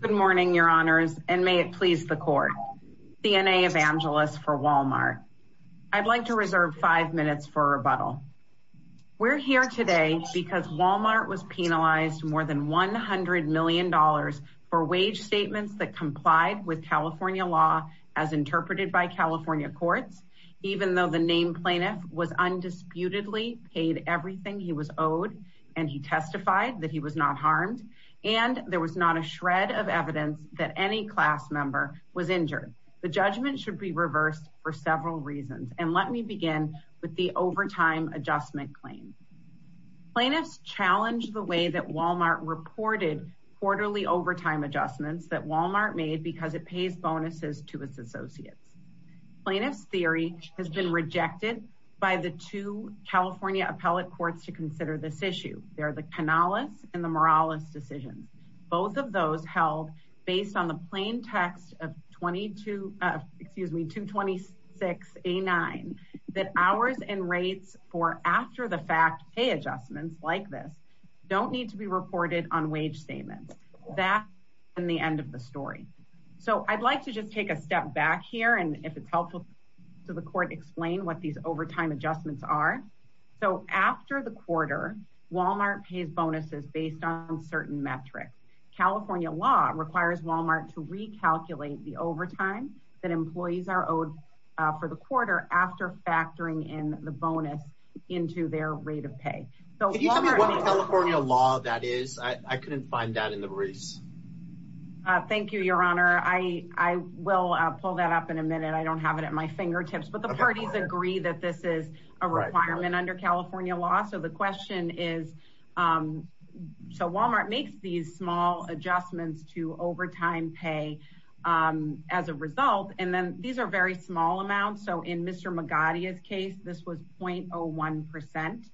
Good morning your honors and may it please the court. CNA Evangelist for Wal-Mart. I'd like to reserve five minutes for a rebuttal. We're here today because Wal-Mart was penalized more than 100 million dollars for wage statements that complied with California law as interpreted by California courts even though the named plaintiff was undisputedly paid everything he was owed and he testified that he was not harmed and there was not a shred of evidence that any class member was injured. The judgment should be reversed for several reasons and let me begin with the overtime adjustment claim. Plaintiffs challenged the way that Wal-Mart reported quarterly overtime adjustments that Wal-Mart made because it pays bonuses to its associates. Plaintiffs theory has been rejected by the two California appellate courts to consider this issue. They're the Canales and the Morales decisions. Both of those held based on the plain text of 22 excuse me 226 a 9 that hours and rates for after the fact pay adjustments like this don't need to be reported on wage statements that in the end of the story. So I'd like to just take a step back here and if it's helpful to the court explain what these overtime adjustments are. So after the quarter Wal-Mart pays bonuses based on certain metrics. California law requires Wal-Mart to recalculate the overtime that employees are owed for the quarter after factoring in the bonus into their rate of pay. So California law that is I couldn't find that in the briefs. Thank you your honor I I will pull that up in a minute I don't have it at my fingertips but the parties agree that this is a requirement under California law. So the question is so Wal-Mart makes these small adjustments to overtime pay as a result and then these are very small amounts. So in Mr. Magadia's case this was 0.01%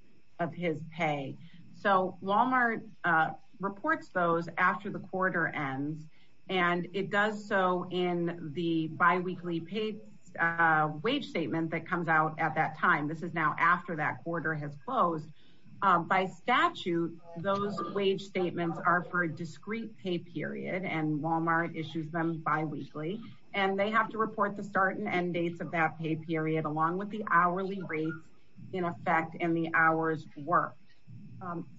of his pay. So Wal-Mart reports those after the quarter ends and it does so in the at that time. This is now after that quarter has closed. By statute those wage statements are for a discrete pay period and Wal-Mart issues them bi-weekly and they have to report the start and end dates of that pay period along with the hourly rates in effect and the hours worked.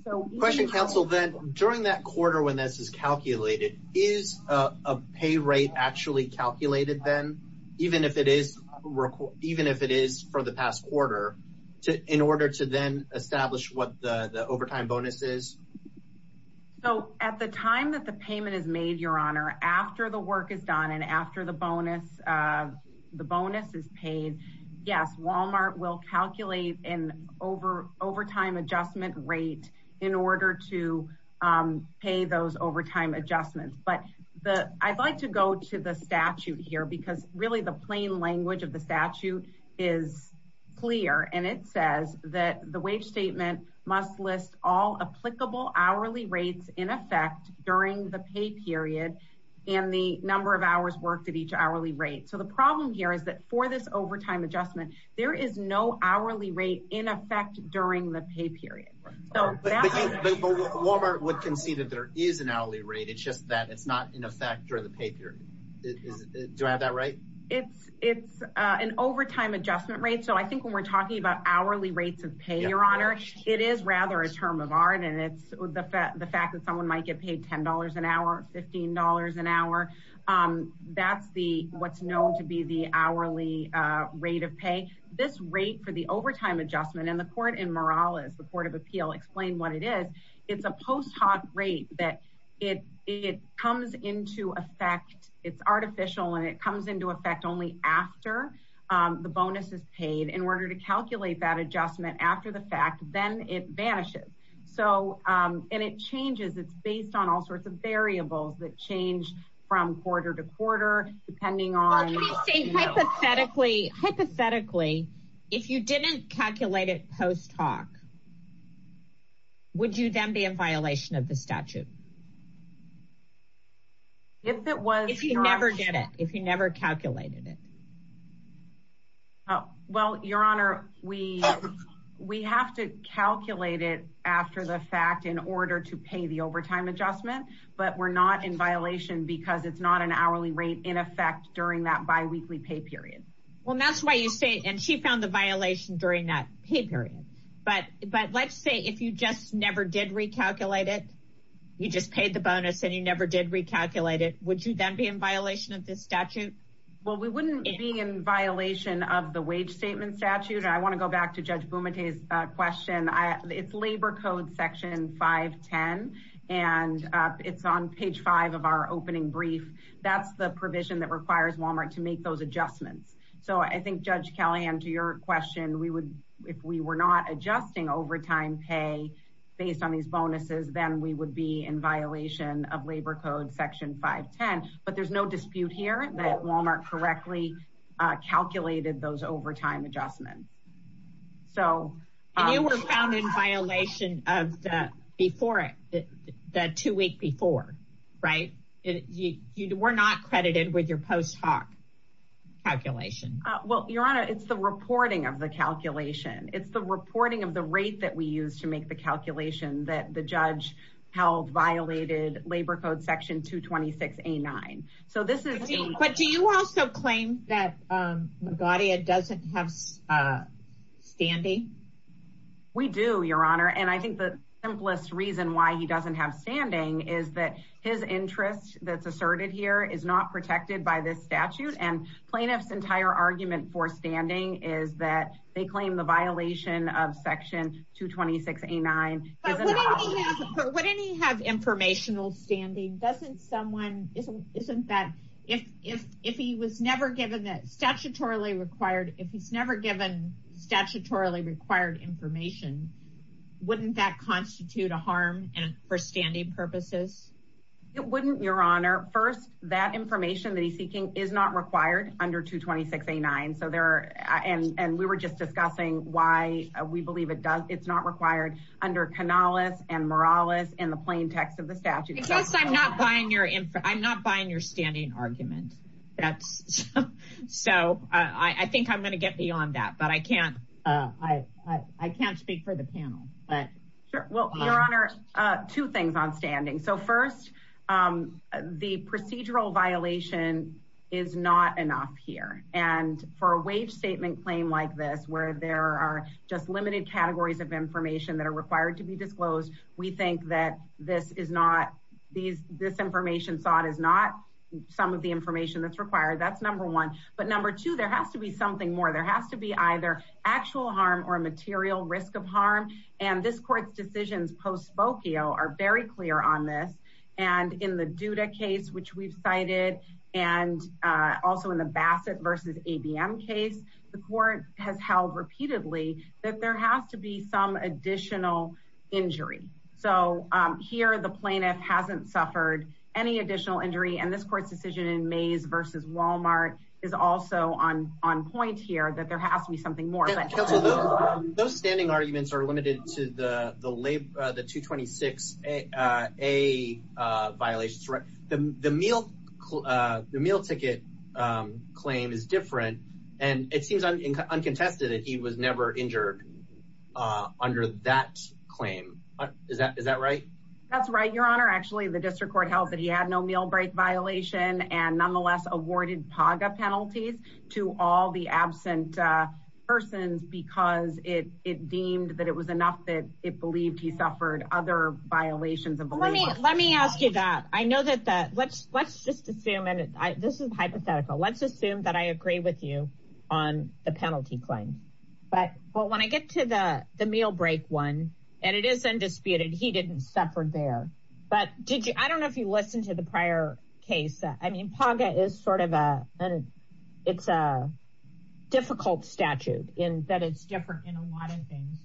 So question counsel then during that quarter when this is calculated is a pay rate actually calculated then even if it is even if it is for the past quarter in order to then establish what the overtime bonus is? So at the time that the payment is made your honor after the work is done and after the bonus the bonus is paid yes Wal-Mart will calculate an over overtime adjustment rate in order to pay those overtime adjustments. But the I'd like to go to the statute here because really the plain language of the statute is clear and it says that the wage statement must list all applicable hourly rates in effect during the pay period and the number of hours worked at each hourly rate. So the problem here is that for this overtime adjustment there is no hourly rate in effect during the pay period. But Wal-Mart would concede that there is an hourly rate it's just that in effect during the pay period. Do I have that right? It's an overtime adjustment rate so I think when we're talking about hourly rates of pay your honor it is rather a term of art and it's the fact that someone might get paid $10 an hour $15 an hour that's the what's known to be the hourly rate of pay. This rate for the overtime adjustment and the court in Morales the effect it's artificial and it comes into effect only after the bonus is paid in order to calculate that adjustment after the fact then it vanishes. So and it changes it's based on all sorts of variables that change from quarter to quarter depending on hypothetically if you didn't calculate it post hoc would you then be in violation of the statute? If it was. If you never did it if you never calculated it. Well your honor we we have to calculate it after the fact in order to pay the overtime adjustment but we're not in violation because it's not an hourly rate in effect during that bi-weekly pay period. Well that's why you say and she found the violation during that pay period but let's say if you just never did recalculate it you just paid the bonus and you never did recalculate it would you then be in violation of this statute? Well we wouldn't be in violation of the wage statement statute I want to go back to Judge Bumate's question. It's labor code section 510 and it's on page 5 of our opening brief that's the provision that requires Walmart to make those adjustments. So I think Judge Callahan to your question we would if we were not adjusting overtime pay based on these bonuses then we would be in violation of labor code section 510 but there's no dispute here that Walmart correctly calculated those overtime adjustments. So you were found in violation of that before it that two week before right you were not credited with your post hoc calculation. Well your honor it's the reporting of the calculation. It's the reporting of the rate that we use to make the calculation that the judge held violated labor code section 226 A9. But do you also claim that Magadia doesn't have standing? We do your honor and I think the simplest reason why he doesn't have standing is that his interest that's asserted here is not protected by this statute and plaintiffs entire argument for standing is that they claim the violation of section 226 A9. But wouldn't he have informational standing doesn't someone isn't that if if if he was never given that statutorily required if he's never given statutorily required information wouldn't that constitute a harm and for standing purposes? It wouldn't your honor first that information that he's seeking is not required under 226 A9 so there and and we were just discussing why we believe it does it's not required under Canales and Morales in the plain text of the statute. I'm not buying your I'm not buying your standing argument that's so I think I'm gonna get beyond that but I can't I I can't speak for the panel but well your honor two things on procedural violation is not enough here and for a wage statement claim like this where there are just limited categories of information that are required to be disclosed we think that this is not these this information sought is not some of the information that's required that's number one but number two there has to be something more there has to be either actual harm or a material risk of harm and this court's decisions post Spokio are very clear on this and in the case which we've cited and also in the Bassett versus ABM case the court has held repeatedly that there has to be some additional injury so here the plaintiff hasn't suffered any additional injury and this court's decision in May's versus Walmart is also on on point here that there has to be something more those standing arguments are limited to the the labor the 226 a violations right the meal the meal ticket claim is different and it seems uncontested that he was never injured under that claim is that is that right that's right your honor actually the district court held that he had no meal break violation and because it it deemed that it was enough that it believed he suffered other violations of let me ask you that I know that that let's let's just assume and I this is hypothetical let's assume that I agree with you on the penalty claim but well when I get to the the meal break one and it is undisputed he didn't suffer there but did you I don't know if you listen to the prior case I mean paga is sort of a and it's a difficult statute in that it's different in a lot of things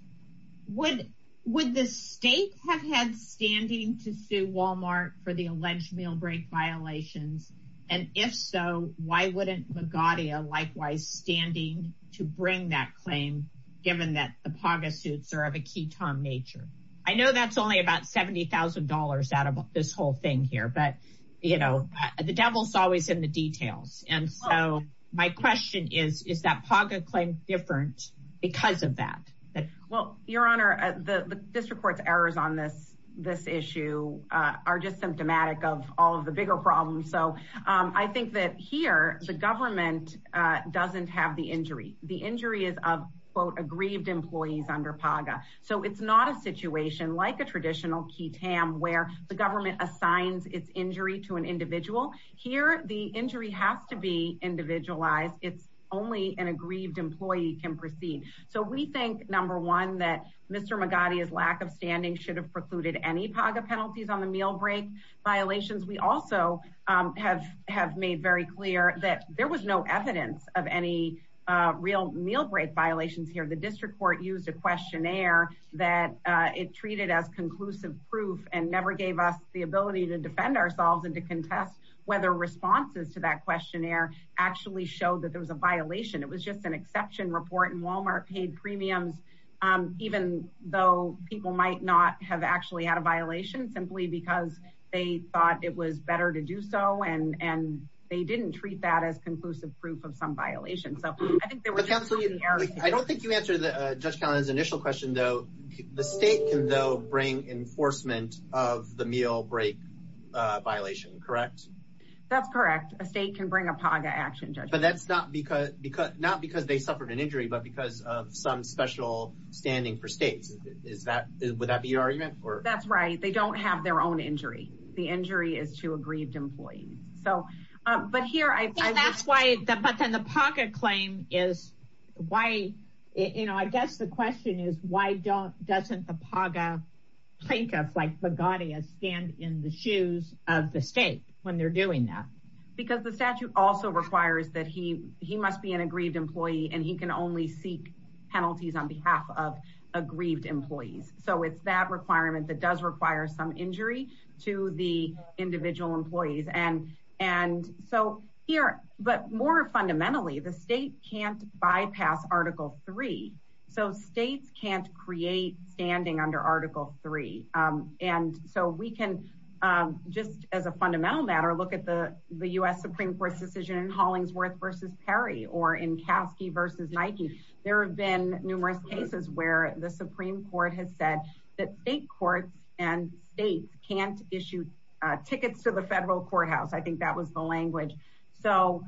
would would the state have had standing to sue Walmart for the alleged meal break violations and if so why wouldn't Magadha likewise standing to bring that claim given that the paga suits are of a key Tom nature I know that's only about $70,000 out of this whole thing here but you know the devil is always in the details and so my question is is that paga claim different because of that well your honor the district courts errors on this this issue are just symptomatic of all of the bigger problems so I think that here the government doesn't have the injury the injury is of quote aggrieved employees under paga so it's not a situation like a traditional key tam where the injury has to be individualized it's only an aggrieved employee can proceed so we think number one that mr. Magadha is lack of standing should have precluded any paga penalties on the meal break violations we also have have made very clear that there was no evidence of any real meal break violations here the district court used a questionnaire that it treated as conclusive proof and never that questionnaire actually showed that there was a violation it was just an exception report and Walmart paid premiums even though people might not have actually had a violation simply because they thought it was better to do so and and they didn't treat that as conclusive proof of some violation so I think there was absolutely I don't think you answer the judge's initial question though the state can though bring enforcement of the meal break violation correct that's correct a state can bring a paga action judge but that's not because because not because they suffered an injury but because of some special standing for states is that would that be argument or that's right they don't have their own injury the injury is to aggrieved employees so but here I that's why that but then the pocket claim is why you know I guess the question is why don't doesn't the paga plaintiffs like the gaudy a stand in the when they're doing that because the statute also requires that he he must be an aggrieved employee and he can only seek penalties on behalf of aggrieved employees so it's that requirement that does require some injury to the individual employees and and so here but more fundamentally the state can't bypass article 3 so states can't create standing under article 3 and so we can just as a fundamental matter look at the the US Supreme Court's decision in Hollingsworth versus Perry or in Kasky versus Nike there have been numerous cases where the Supreme Court has said that state courts and states can't issue tickets to the federal courthouse I think that was the language so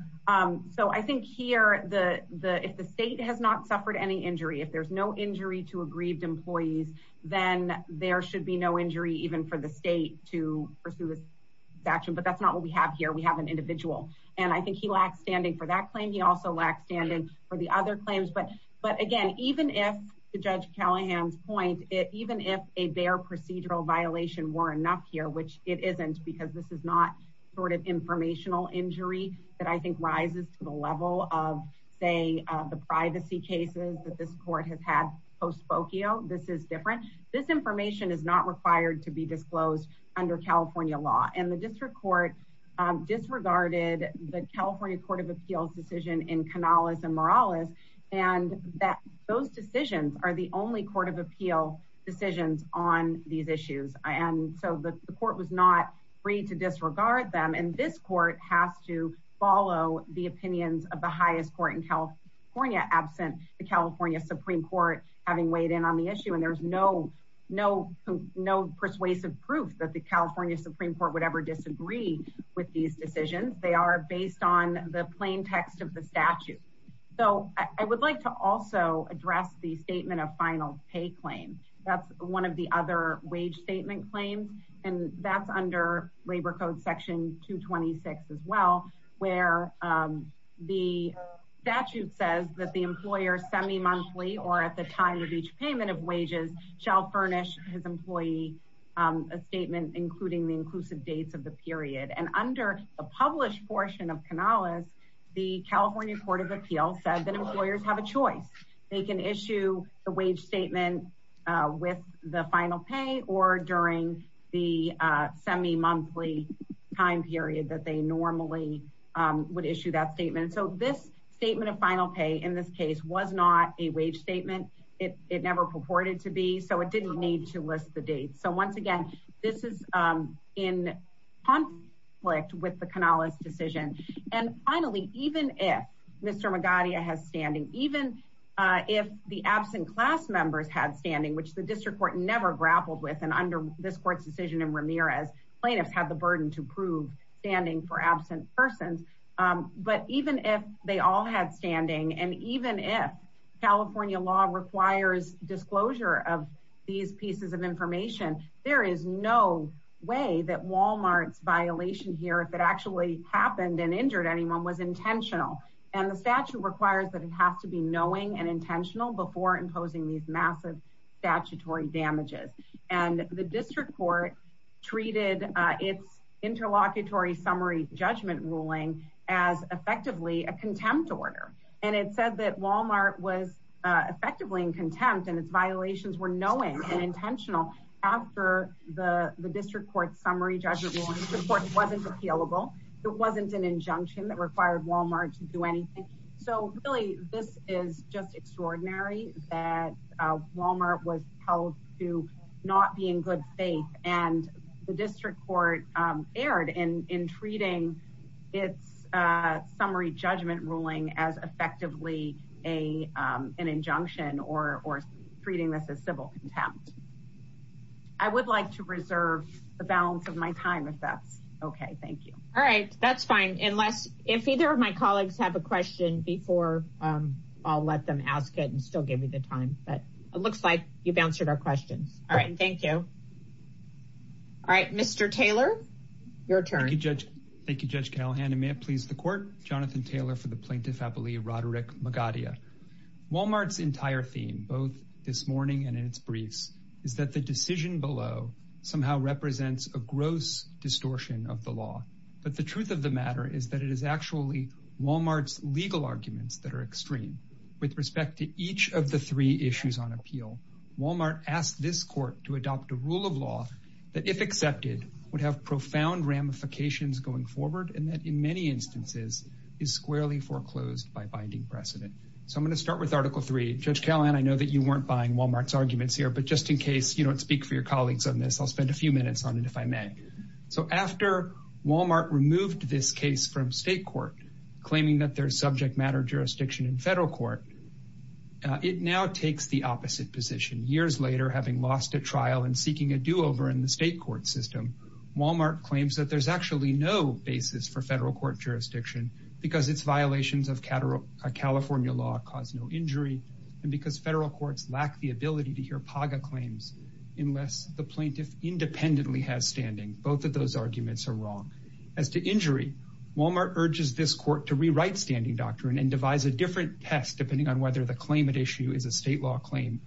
so I think here the the if the state has not suffered any injury if there's no injury to aggrieved employees then there should be no injury even for the state to pursue this action but that's not what we have here we have an individual and I think he lacks standing for that claim he also lacks standing for the other claims but but again even if the judge Callahan's point it even if a bare procedural violation were enough here which it isn't because this is not sort of informational injury that I think rises to the level of say the privacy cases that this court has had post Spokio this is different this information is not required to be disclosed under California law and the district court disregarded the California Court of Appeals decision in Canales and Morales and that those decisions are the only Court of Appeal decisions on these issues and so the court was not free to disregard them and this court has to follow the opinions of the highest court in California absent the California Supreme Court having weighed in on the issue and there's no no no persuasive proof that the California Supreme Court would ever disagree with these decisions they are based on the plaintext of the statute so I would like to also address the statement of final pay claim that's one of the other wage statement claims and that's under labor code section 226 as well where the statute says that the employer semi-monthly or at the time of each payment of wages shall furnish his employee a statement including the inclusive dates of the period and under a published portion of Canales the California Court of Appeals said that employers have a choice they can issue the wage statement with the final pay or during the semi-monthly time period that they normally would issue that statement so this statement of final pay in this case was not a wage statement it never purported to be so it didn't need to list the date so once again this is in conflict with the Canales decision and finally even if Mr. Magadia has standing even if the absent class members had standing which the district court never grappled with and under this court's decision in Ramirez plaintiffs had the burden to prove standing for absent persons but even if they all had standing and even if California law requires disclosure of these pieces of information there is no way that injured anyone was intentional and the statute requires that it has to be knowing and intentional before imposing these massive statutory damages and the district court treated its interlocutory summary judgment ruling as effectively a contempt order and it said that Walmart was effectively in contempt and its violations were knowing and intentional after the the district court summary wasn't appealable it wasn't an injunction that required Walmart to do anything so really this is just extraordinary that Walmart was held to not be in good faith and the district court erred in in treating its summary judgment ruling as effectively a an injunction or or treating this as civil contempt I would like to reserve the balance of my time if that's okay thank you all right that's fine unless if either of my colleagues have a question before I'll let them ask it and still give me the time but it looks like you've answered our questions all right thank you all right mr. Taylor your turn you judge thank you judge Callahan and may it please the court Jonathan Taylor for the plaintiff I believe Roderick Magadia Walmart's entire theme both this morning and in its briefs is that the decision below somehow represents a gross distortion of the law but the truth of the matter is that it is actually Walmart's legal arguments that are extreme with respect to each of the three issues on appeal Walmart asked this court to adopt a rule of law that if accepted would have profound ramifications going forward and that in many instances is squarely foreclosed by binding precedent so I'm going to start with article 3 judge Callahan I know that you weren't buying Walmart's arguments here but just in case you don't speak for your colleagues on this I'll spend a few minutes on it if I may so after Walmart removed this case from state court claiming that their subject matter jurisdiction in federal court it now takes the opposite position years later having lost a trial and seeking a do-over in the state court system Walmart claims that there's actually no basis for federal court jurisdiction because it's violations of California law cause no injury and because federal courts lack the ability to hear Paga claims unless the plaintiff independently has standing both of those arguments are wrong as to injury Walmart urges this court to rewrite standing doctrine and devise a different test depending on whether the claimant issue is a state law claim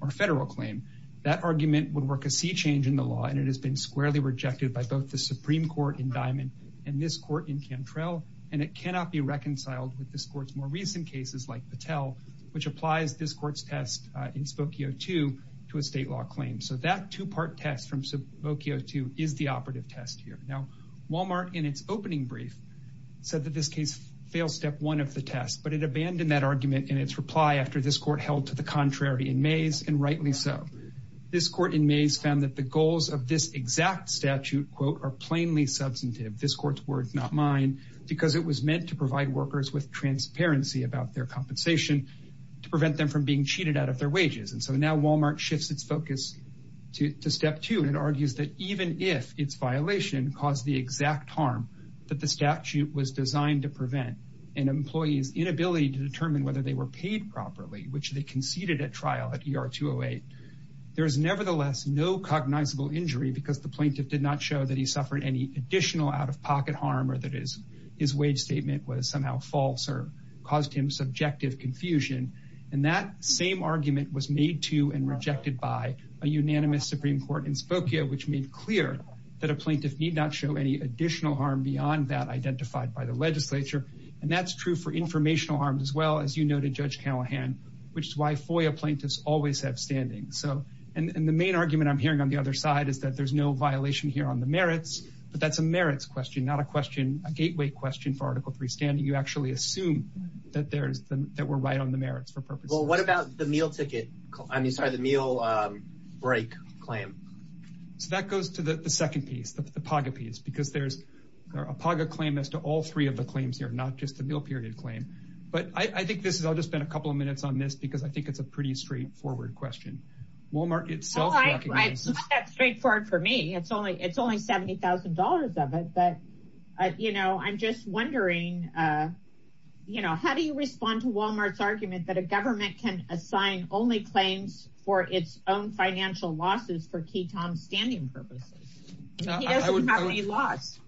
or federal claim that argument would work a sea change in the law and it has been squarely rejected by both the Supreme Court in more recent cases like Patel which applies this court's test in Spokio to to a state law claim so that two-part test from Spokio to is the operative test here now Walmart in its opening brief said that this case failed step one of the test but it abandoned that argument in its reply after this court held to the contrary in May's and rightly so this court in May's found that the goals of this exact statute quote are plainly substantive this court's words not mine because it was meant to provide workers with transparency about their compensation to prevent them from being cheated out of their wages and so now Walmart shifts its focus to step two and argues that even if it's violation caused the exact harm that the statute was designed to prevent an employee's inability to determine whether they were paid properly which they conceded at trial at ER 208 there is nevertheless no cognizable injury because the plaintiff did not show that he suffered any additional out-of-pocket harm or that is his wage statement was somehow false or caused him subjective confusion and that same argument was made to and rejected by a unanimous Supreme Court in Spokio which made clear that a plaintiff need not show any additional harm beyond that identified by the legislature and that's true for informational harms as well as you noted judge Callahan which is why FOIA plaintiffs always have standing so and the main argument I'm hearing on the other side is that there's no violation here on the merits but that's a merits question not a question a gateway question for article 3 standing you actually assume that there's that we're right on the merits for purpose well what about the meal ticket I mean sorry the meal break claim so that goes to the second piece the paga piece because there's a paga claim as to all three of the claims here not just the meal period claim but I think this is I'll just spend a couple of minutes on this because I think it's a pretty straightforward question Walmart itself straightforward for me it's only it's only $70,000 of it but you know I'm just wondering you know how do you respond to Walmart's argument that a government can assign only claims for its own financial losses for key Tom standing purposes I would have any loss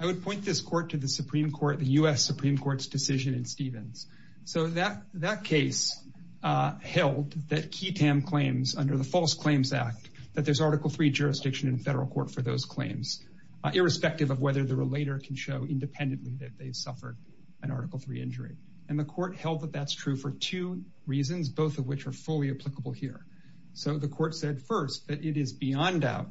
I would point this court to the Supreme Court the US Supreme Court's decision in Stevens so that that case held that key claims under the False Claims Act that there's article 3 jurisdiction in federal court for those claims irrespective of whether the relator can show independently that they've suffered an article 3 injury and the court held that that's true for two reasons both of which are fully applicable here so the court said first that it is beyond doubt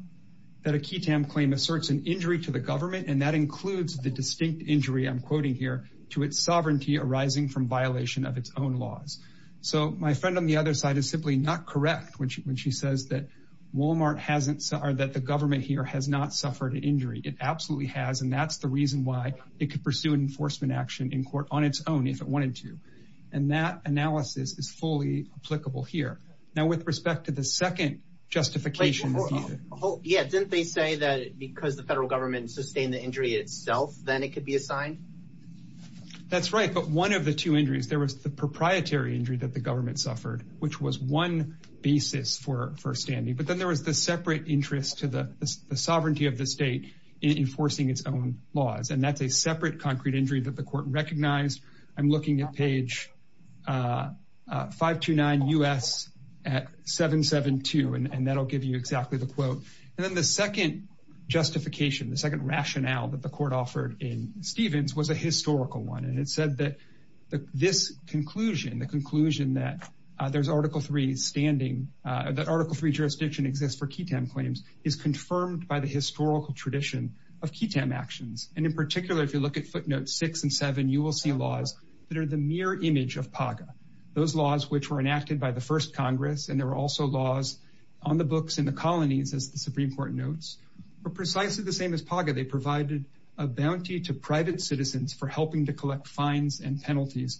that a key Tam claim asserts an injury to the government and that includes the distinct injury I'm quoting here to its sovereignty arising from violation of its own laws so my friend on the other side is simply not correct when she says that Walmart hasn't saw that the government here has not suffered an injury it absolutely has and that's the reason why it could pursue an enforcement action in court on its own if it wanted to and that analysis is fully applicable here now with respect to the second justification oh yeah didn't they say that because the federal government sustained the injury itself then it could be assigned that's right but one of the two injuries there was the proprietary injury that the government suffered which was one basis for first standing but then there was the separate interest to the sovereignty of the state in enforcing its own laws and that's a separate concrete injury that the court recognized I'm looking at page 5 to 9 u.s. at 772 and that'll give you exactly the quote and then the second justification the second rationale that the court offered in Stevens was a historical one and it said that this conclusion the conclusion that there's article 3 standing that article 3 jurisdiction exists for ketamine claims is confirmed by the historical tradition of ketamine actions and in particular if you look at footnotes 6 and 7 you will see laws that are the mirror image of Paga those laws which were enacted by the first Congress and there were also laws on the books in the colonies as the Supreme Court notes were precisely the same as Paga they provided a bounty to private citizens for helping to collect it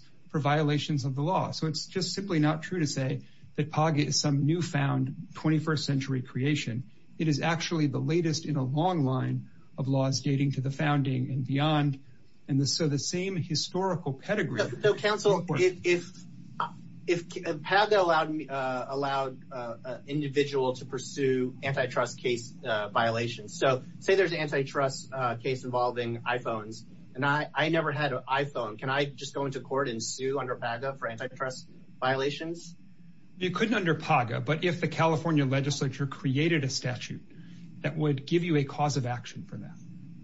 is simply not true to say that Paga is some newfound 21st century creation it is actually the latest in a long line of laws dating to the founding and beyond and the so the same historical pedigree so counsel if if Paga allowed me allowed individual to pursue antitrust case violations so say there's antitrust case involving iPhones and I I never had an iPhone can I just go into court and sue under Paga for violations you couldn't under Paga but if the California legislature created a statute that would give you a cause of action for that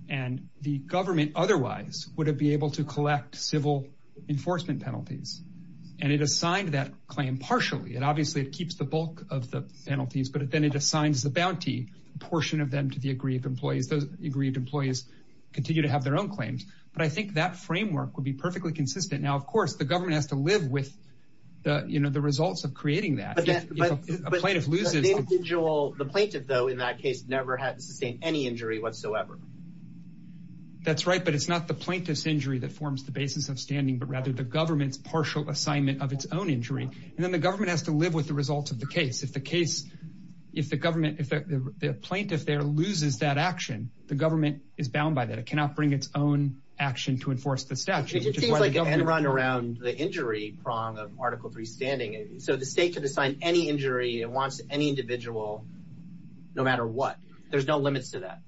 and the government otherwise would it be able to collect civil enforcement penalties and it assigned that claim partially and obviously it keeps the bulk of the penalties but then it assigns the bounty portion of them to the aggrieved employees those agreed employees continue to have their own claims but I think that framework would be perfectly consistent now of course the government has to live with the you know the results of creating that a plaintiff loses the plaintiff though in that case never had to sustain any injury whatsoever that's right but it's not the plaintiff's injury that forms the basis of standing but rather the government's partial assignment of its own injury and then the government has to live with the results of the case if the case if the government if the plaintiff there loses that action the government is bound by that it cannot bring its own action to enforce the statute and run around the injury prong of article 3 standing so the state could assign any injury it wants any individual no matter what there's no limits to that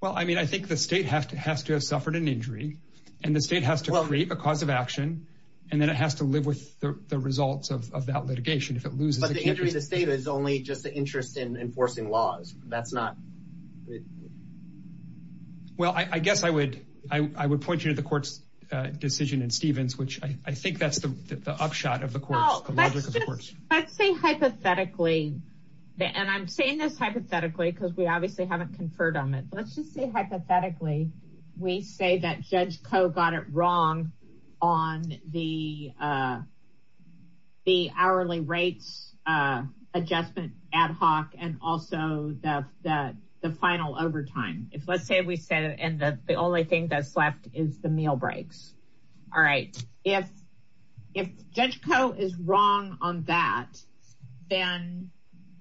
well I mean I think the state has to has to have suffered an injury and the state has to create a cause of action and then it has to live with the results of that litigation if it loses the injury the state is only just the interest in enforcing laws that's not well I guess I would I would point you to the court's decision in Stevens which I think that's the upshot of the course I'd say hypothetically and I'm saying this hypothetically because we obviously haven't conferred on it let's just say hypothetically we say that judge Coe got it wrong on the the hourly rates adjustment ad hoc and also that the final overtime if let's say we said and that the only thing that's left is the breaks all right if if judge Coe is wrong on that then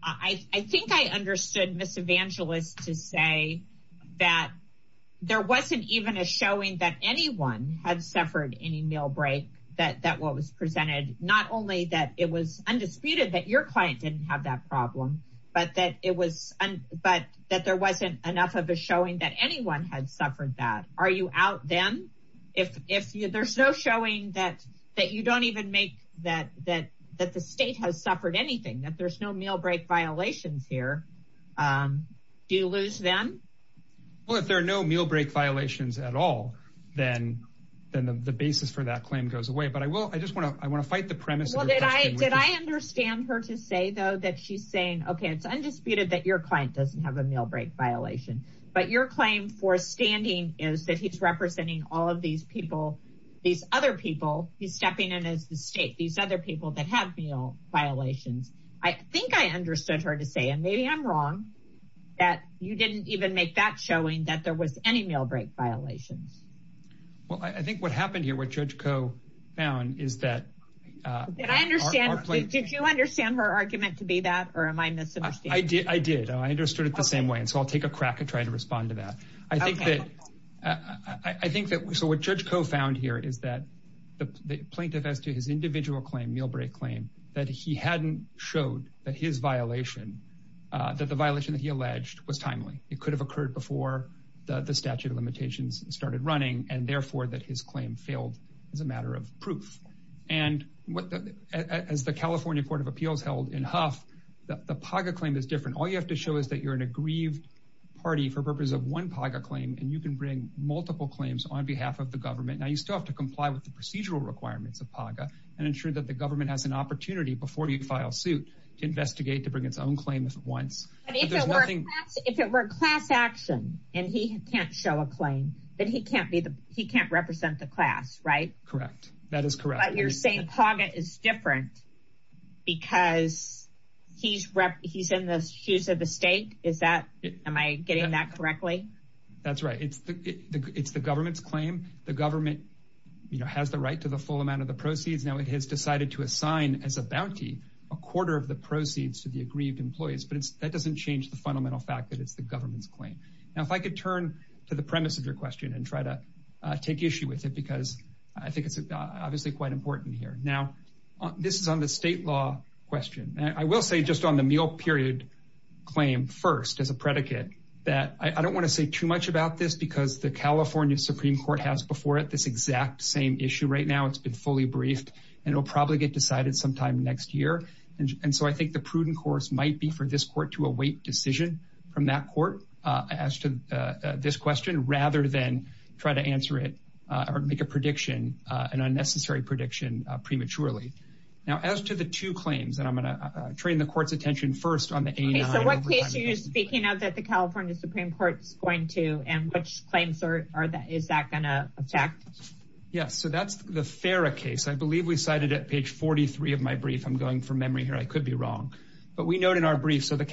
I think I understood miss evangelist to say that there wasn't even a showing that anyone had suffered any meal break that that what was presented not only that it was undisputed that your client didn't have that problem but that it was and but that there wasn't enough of a showing that anyone had suffered that are you out then if there's no showing that that you don't even make that that that the state has suffered anything that there's no meal break violations here do you lose them well if there are no meal break violations at all then then the basis for that claim goes away but I will I just want to I want to fight the premise well did I did I understand her to say though that she's saying okay it's undisputed that your client doesn't have a meal break violation but your claim for standing is that he's representing all of these people these other people he's stepping in as the state these other people that have meal violations I think I understood her to say and maybe I'm wrong that you didn't even make that showing that there was any meal break violations well I think what happened here what judge Coe found is that I understand did you understand her argument to be that or am I missing I did I understood it the same way and I'll take a crack at trying to respond to that I think that I think that we saw what judge Coe found here is that the plaintiff as to his individual claim meal break claim that he hadn't showed that his violation that the violation that he alleged was timely it could have occurred before the statute of limitations started running and therefore that his claim failed as a matter of proof and what as the California Court of Appeals held in Huff the Paga claim is different all you have to show is that you're in a grieved party for purpose of one Paga claim and you can bring multiple claims on behalf of the government now you still have to comply with the procedural requirements of Paga and ensure that the government has an opportunity before you file suit to investigate to bring its own claim if at once if it were class action and he can't show a claim that he can't be the he can't represent the class right correct that is correct you're saying Paga is different because he's rep he's in the shoes of the state is that am I getting that correctly that's right it's the it's the government's claim the government you know has the right to the full amount of the proceeds now it has decided to assign as a bounty a quarter of the proceeds to the aggrieved employees but it's that doesn't change the fundamental fact that it's the government's claim now if I could turn to the premise of your question and try to take issue with it because I think it's obviously quite important here now this is on the state law question I will say just on the meal period claim first as a predicate that I don't want to say too much about this because the California Supreme Court has before it this exact same issue right now it's been fully briefed and it'll probably get decided sometime next year and so I think the prudent course might be for this court to await decision from that court as to this question rather than try to answer it or make a prediction an unnecessary prediction prematurely now as to the two claims that I'm gonna train the court's attention first on the speaking of that the California Supreme Court's going to and which claims are that is that gonna affect yes so that's the Farrah case I believe we cited at page 43 of my brief I'm going from memory here I could be wrong but we noted in our brief so the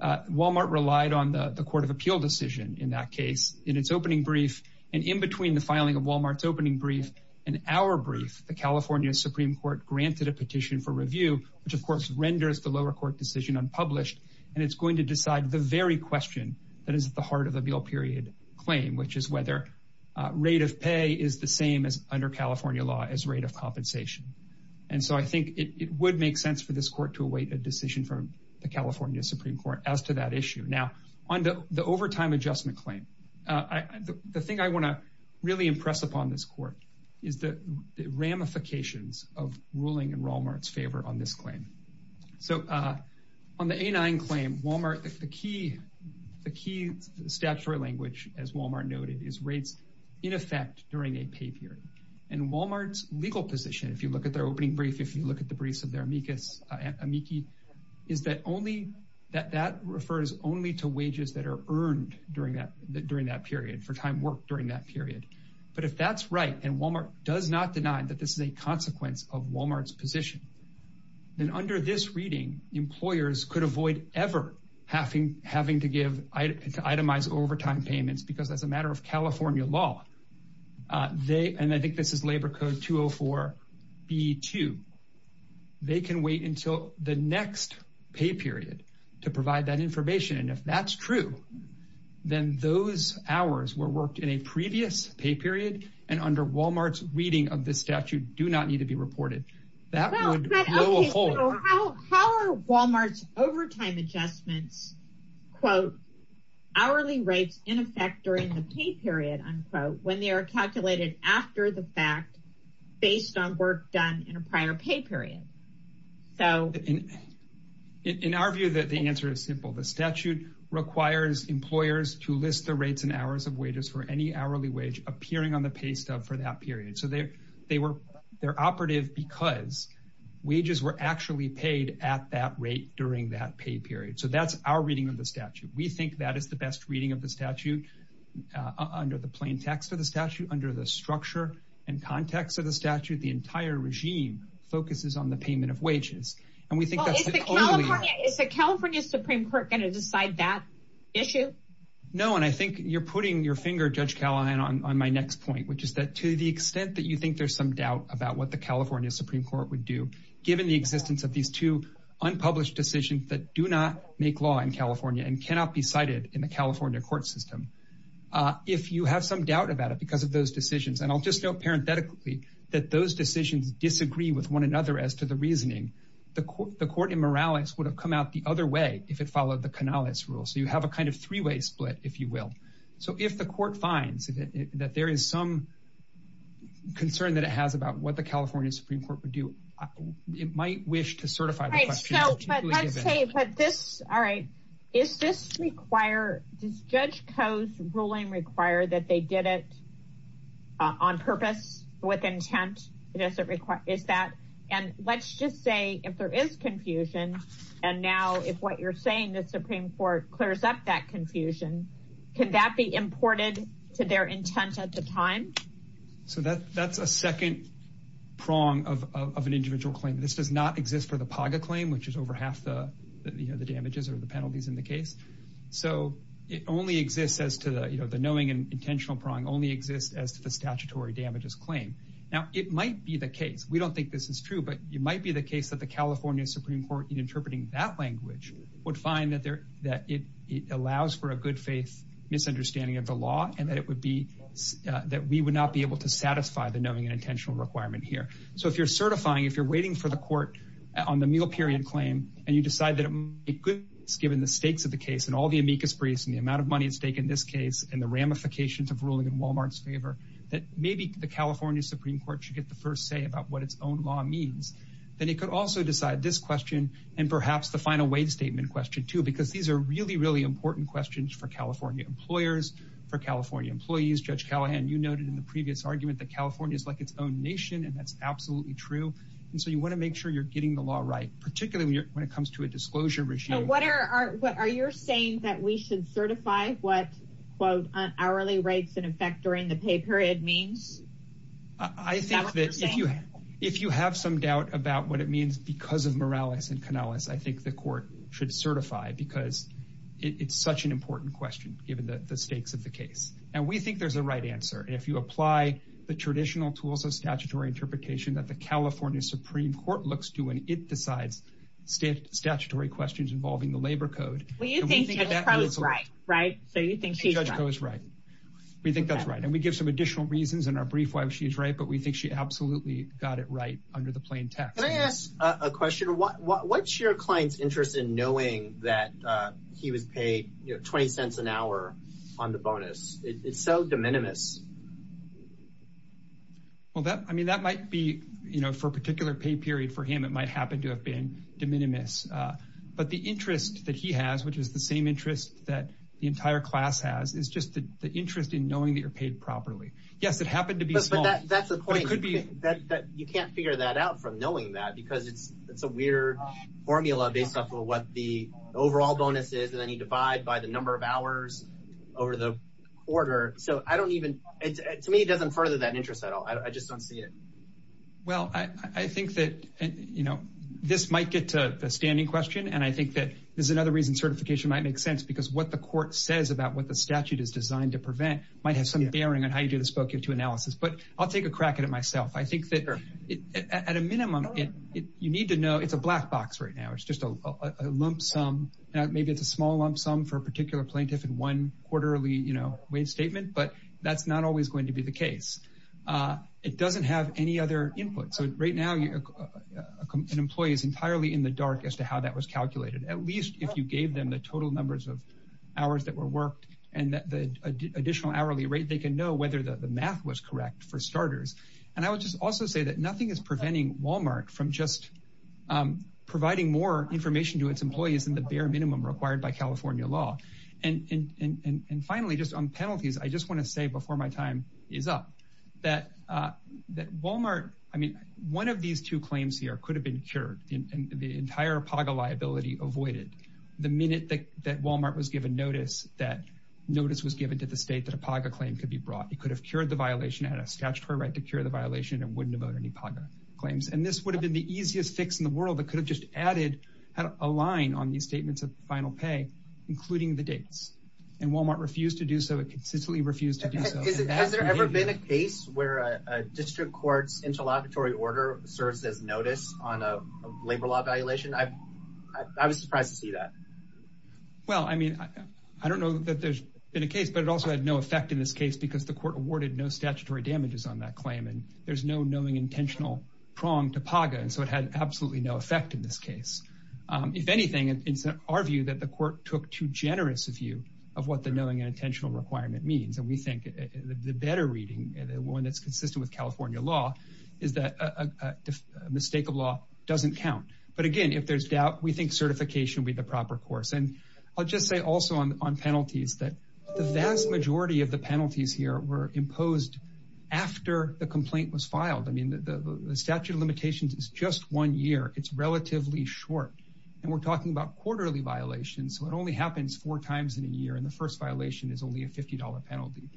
Walmart relied on the the Court of Appeal decision in that case in its opening brief and in between the filing of Walmart's opening brief and our brief the California Supreme Court granted a petition for review which of course renders the lower court decision unpublished and it's going to decide the very question that is at the heart of the bill period claim which is whether rate of pay is the same as under California law as rate of compensation and so I think it would make sense for this court to await a decision from the California Supreme Court as to that issue now on the overtime adjustment claim I the thing I want to really impress upon this court is the ramifications of ruling in Walmart's favor on this claim so on the a9 claim Walmart the key the key statutory language as Walmart noted is rates in effect during a pay period and Walmart's legal position if you look at their opening brief if you look at the briefs of their amicus amici is that only that that refers only to wages that are earned during that that during that period but if that's right and Walmart does not deny that this is a consequence of Walmart's position then under this reading employers could avoid ever having having to give itemized overtime payments because as a matter of California law they and I think this is labor code 204 b2 they can wait until the next pay period to provide that information and if that's true then those hours were worked in a previous pay period and under Walmart's reading of this statute do not need to be reported that Walmart's overtime adjustments quote hourly rates in effect during the pay period unquote when they are calculated after the fact based on work done in a prior pay period so in in our view that the answer is simple the statute requires employers to list the rates and hours of wages for any hourly wage appearing on the pay stub for that period so there they were their operative because wages were actually paid at that rate during that pay period so that's our reading of the statute we think that is the best reading of the statute under the plain text of the statute under the structure and context of the statute the entire regime focuses on the payment of wages and we think it's a California Supreme Court going to decide that issue no and I think you're putting your finger judge Callahan on my next point which is that to the extent that you think there's some doubt about what the California Supreme Court would do given the existence of these two unpublished decisions that do not make law in California and cannot be cited in the California court system if you have some doubt about it because of those decisions and I'll just don't parentetically that those decisions disagree with one another as to the reasoning the court the court in Morales would have come out the other way if it followed the canal it's rule so you have a kind of three-way split if you will so if the court finds that there is some concern that it has about what the California Supreme Court would do it might wish to certify this all right is this require this judge Coe's that and let's just say if there is confusion and now if what you're saying the Supreme Court clears up that confusion can that be imported to their intent at the time so that that's a second prong of an individual claim this does not exist for the Paga claim which is over half the you know the damages or the penalties in the case so it only exists as to the you know the knowing and intentional prong only exists as to the statutory damages claim now it might be the case we don't think this is true but you might be the case that the California Supreme Court in interpreting that language would find that there that it allows for a good-faith misunderstanding of the law and that it would be that we would not be able to satisfy the knowing and intentional requirement here so if you're certifying if you're waiting for the court on the meal period claim and you decide that it's given the stakes of the case and all the amicus briefs and the amount of money at stake in this case and the ramifications of ruling in Walmart's favor that maybe the California Supreme Court should get the first say about what its own law means then it could also decide this question and perhaps the final waive statement question too because these are really really important questions for California employers for California employees judge Callahan you noted in the previous argument that California is like its own nation and that's absolutely true and so you want to make sure you're getting the law right particularly when it comes to a disclosure regime what are what are you're saying that we should certify what quote hourly rates in effect during the pay period means I think that if you if you have some doubt about what it means because of Morales and Canales I think the court should certify because it's such an important question given the stakes of the case and we think there's a right answer if you apply the traditional tools of statutory interpretation that the California Supreme Court looks to when it decides state statutory questions involving the judge goes right we think that's right and we give some additional reasons in our brief why she's right but we think she absolutely got it right under the plain text I ask a question what what's your clients interest in knowing that he was paid 20 cents an hour on the bonus it's so de minimis well that I mean that might be you know for a particular pay period for him it might happen to have been de minimis but the interest that he has which is the same interest that the class has is just the interest in knowing that you're paid properly yes it happened to be that's a point that you can't figure that out from knowing that because it's it's a weird formula based off of what the overall bonus is and then you divide by the number of hours over the order so I don't even it to me it doesn't further that interest at all I just don't see it well I think that you know this might get to the standing question and I think that there's another reason certification might make sense because what the court says about what the statute is designed to prevent might have some bearing on how you do the spoken to analysis but I'll take a crack at it myself I think that at a minimum it you need to know it's a black box right now it's just a lump sum now maybe it's a small lump sum for a particular plaintiff in one quarterly you know wait statement but that's not always going to be the case it doesn't have any other input so right now you can employ is entirely in the dark as to how that was calculated at least if you gave them the total numbers of hours that were worked and that the additional hourly rate they can know whether the math was correct for starters and I would just also say that nothing is preventing Walmart from just providing more information to its employees in the bare minimum required by California law and and finally just on penalties I just want to say before my time is up that that Walmart I mean one of these two claims here could have been cured in the entire Paga liability avoided the minute that Walmart was given notice that notice was given to the state that a Paga claim could be brought it could have cured the violation at a statutory right to cure the violation and wouldn't have owned any Paga claims and this would have been the easiest fix in the world that could have just added a line on these statements of final pay including the dates and Walmart refused to do so it consistently refused to do so has there ever been a case where a district courts interlocutory order serves as notice on labor law evaluation I I was surprised to see that well I mean I don't know that there's been a case but it also had no effect in this case because the court awarded no statutory damages on that claim and there's no knowing intentional prong to Paga and so it had absolutely no effect in this case if anything it's our view that the court took too generous of you of what the knowing and intentional requirement means and we think the better reading and when it's doesn't count but again if there's doubt we think certification be the proper course and I'll just say also on penalties that the vast majority of the penalties here were imposed after the complaint was filed I mean the statute of limitations is just one year it's relatively short and we're talking about quarterly violations so it only happens four times in a year and the first violation is only a $50 penalty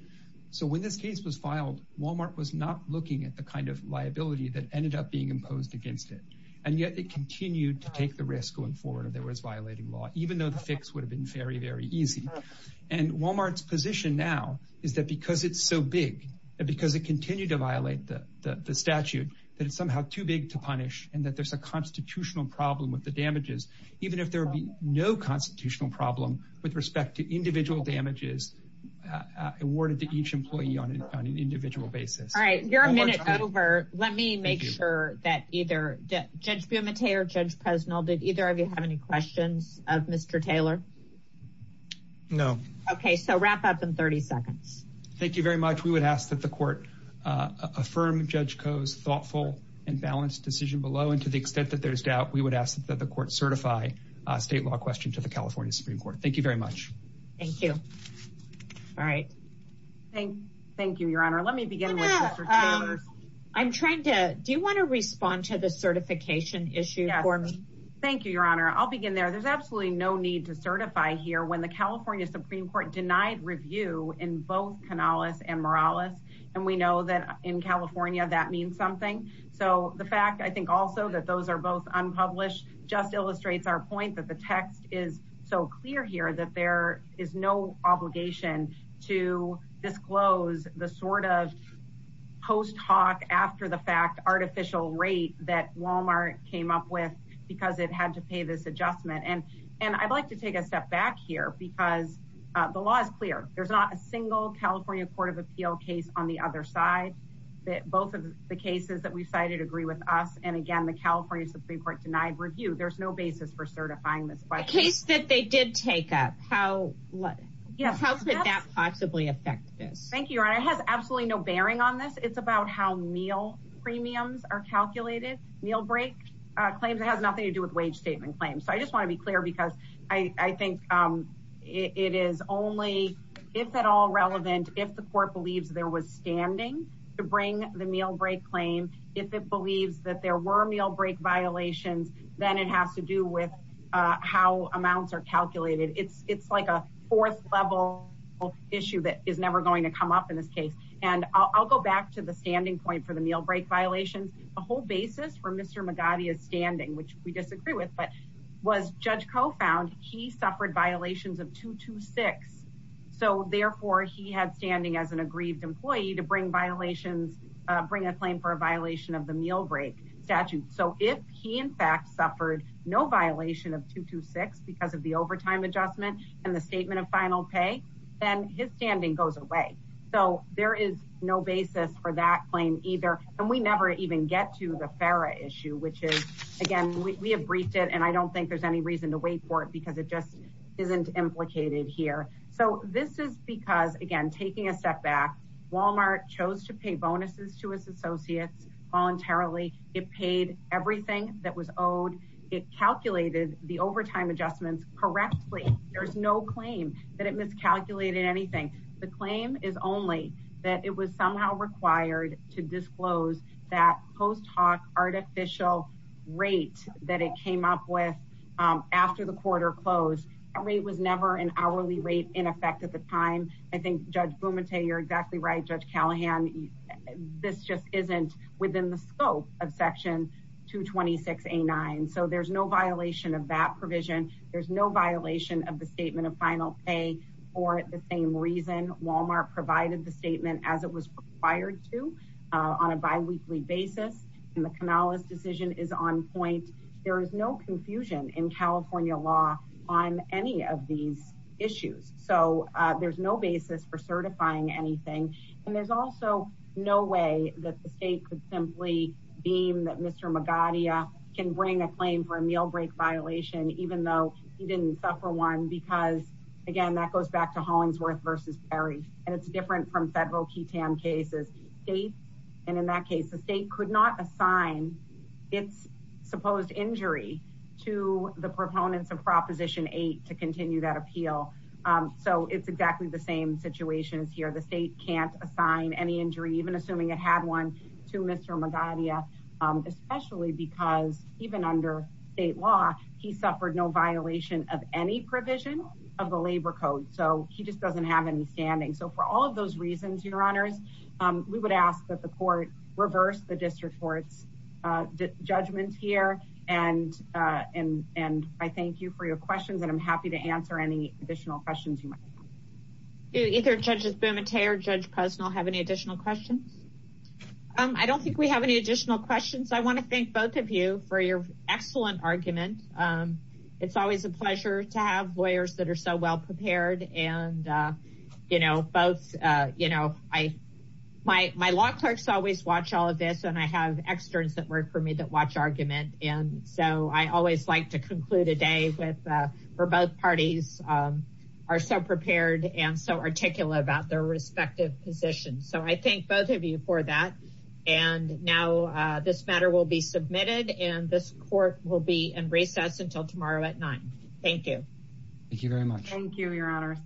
so when this case was filed Walmart was not and yet it continued to take the risk going forward there was violating law even though the fix would have been very very easy and Walmart's position now is that because it's so big because it continued to violate the statute that it's somehow too big to punish and that there's a constitutional problem with the damages even if there would be no constitutional problem with respect to individual damages awarded to each employee on an individual basis all let me make sure that either judge Bumate or judge Presnell did either of you have any questions of mr. Taylor no okay so wrap up in 30 seconds thank you very much we would ask that the court affirm judge Coe's thoughtful and balanced decision below and to the extent that there's doubt we would ask that the court certify a state law question to the California Supreme Court thank you very much thank you all right thank thank you your I'm trying to do you want to respond to the certification issue for me thank you your honor I'll begin there there's absolutely no need to certify here when the California Supreme Court denied review in both Canales and Morales and we know that in California that means something so the fact I think also that those are both unpublished just illustrates our point that the text is so clear here that there is no obligation to disclose the sort of post after the fact artificial rate that Walmart came up with because it had to pay this adjustment and and I'd like to take a step back here because the law is clear there's not a single California Court of Appeal case on the other side that both of the cases that we've cited agree with us and again the California Supreme Court denied review there's no basis for certifying this but case that they did take up how what yes how could that possibly affect this thank you I have absolutely no bearing on this it's about how meal premiums are calculated meal break claims it has nothing to do with wage statement claims so I just want to be clear because I think it is only if at all relevant if the court believes there was standing to bring the meal break claim if it believes that there were meal break violations then it has to do with how amounts are calculated it's it's like a fourth level issue that is never going to come up in this case and I'll go back to the standing point for the meal break violations the whole basis for mr. Magadha is standing which we disagree with but was judge Coe found he suffered violations of two to six so therefore he had standing as an aggrieved employee to bring violations bring a claim for a violation of the meal break statute so if he in fact suffered no violation of two to six because of the overtime adjustment and the statement of final pay and his standing goes away so there is no basis for that claim either and we never even get to the Farah issue which is again we have briefed it and I don't think there's any reason to wait for it because it just isn't implicated here so this is because again taking a step back Walmart chose to pay bonuses to his associates voluntarily it paid everything that was owed it calculated the overtime adjustments correctly there's no claim that it miscalculated anything the claim is only that it was somehow required to disclose that post hawk artificial rate that it came up with after the quarter closed every was never an hourly rate in effect at the time I think judge boom and say you're exactly right judge Callahan this just isn't within the scope of section 226 a 9 so there's no violation of that provision there's no violation of the statement of final pay or at the same reason Walmart provided the statement as it was required to on a bi-weekly basis and the Canales decision is on point there is no confusion in California law on any of these issues so there's no basis for certifying anything and there's also no way that the state simply beam that mr. Magadha can bring a claim for a meal break violation even though he didn't suffer one because again that goes back to Hollingsworth versus Perry and it's different from federal key tam cases date and in that case the state could not assign its supposed injury to the proponents of Proposition 8 to continue that appeal so it's exactly the same situation is here the state can't assign any injury even assuming it had one to mr. Magadha especially because even under state law he suffered no violation of any provision of the labor code so he just doesn't have any standing so for all of those reasons your honors we would ask that the court reverse the district courts judgments here and and and I thank you for your questions and I'm I don't think we have any additional questions I want to thank both of you for your excellent argument it's always a pleasure to have lawyers that are so well prepared and you know both you know I my my law clerks always watch all of this and I have externs that work for me that watch argument and so I always like to conclude a day with for both parties are so prepared and so articulate about their respective positions so I thank both of you for that and now this matter will be submitted and this court will be in recess until tomorrow at 9 thank you thank you very much thank you your honor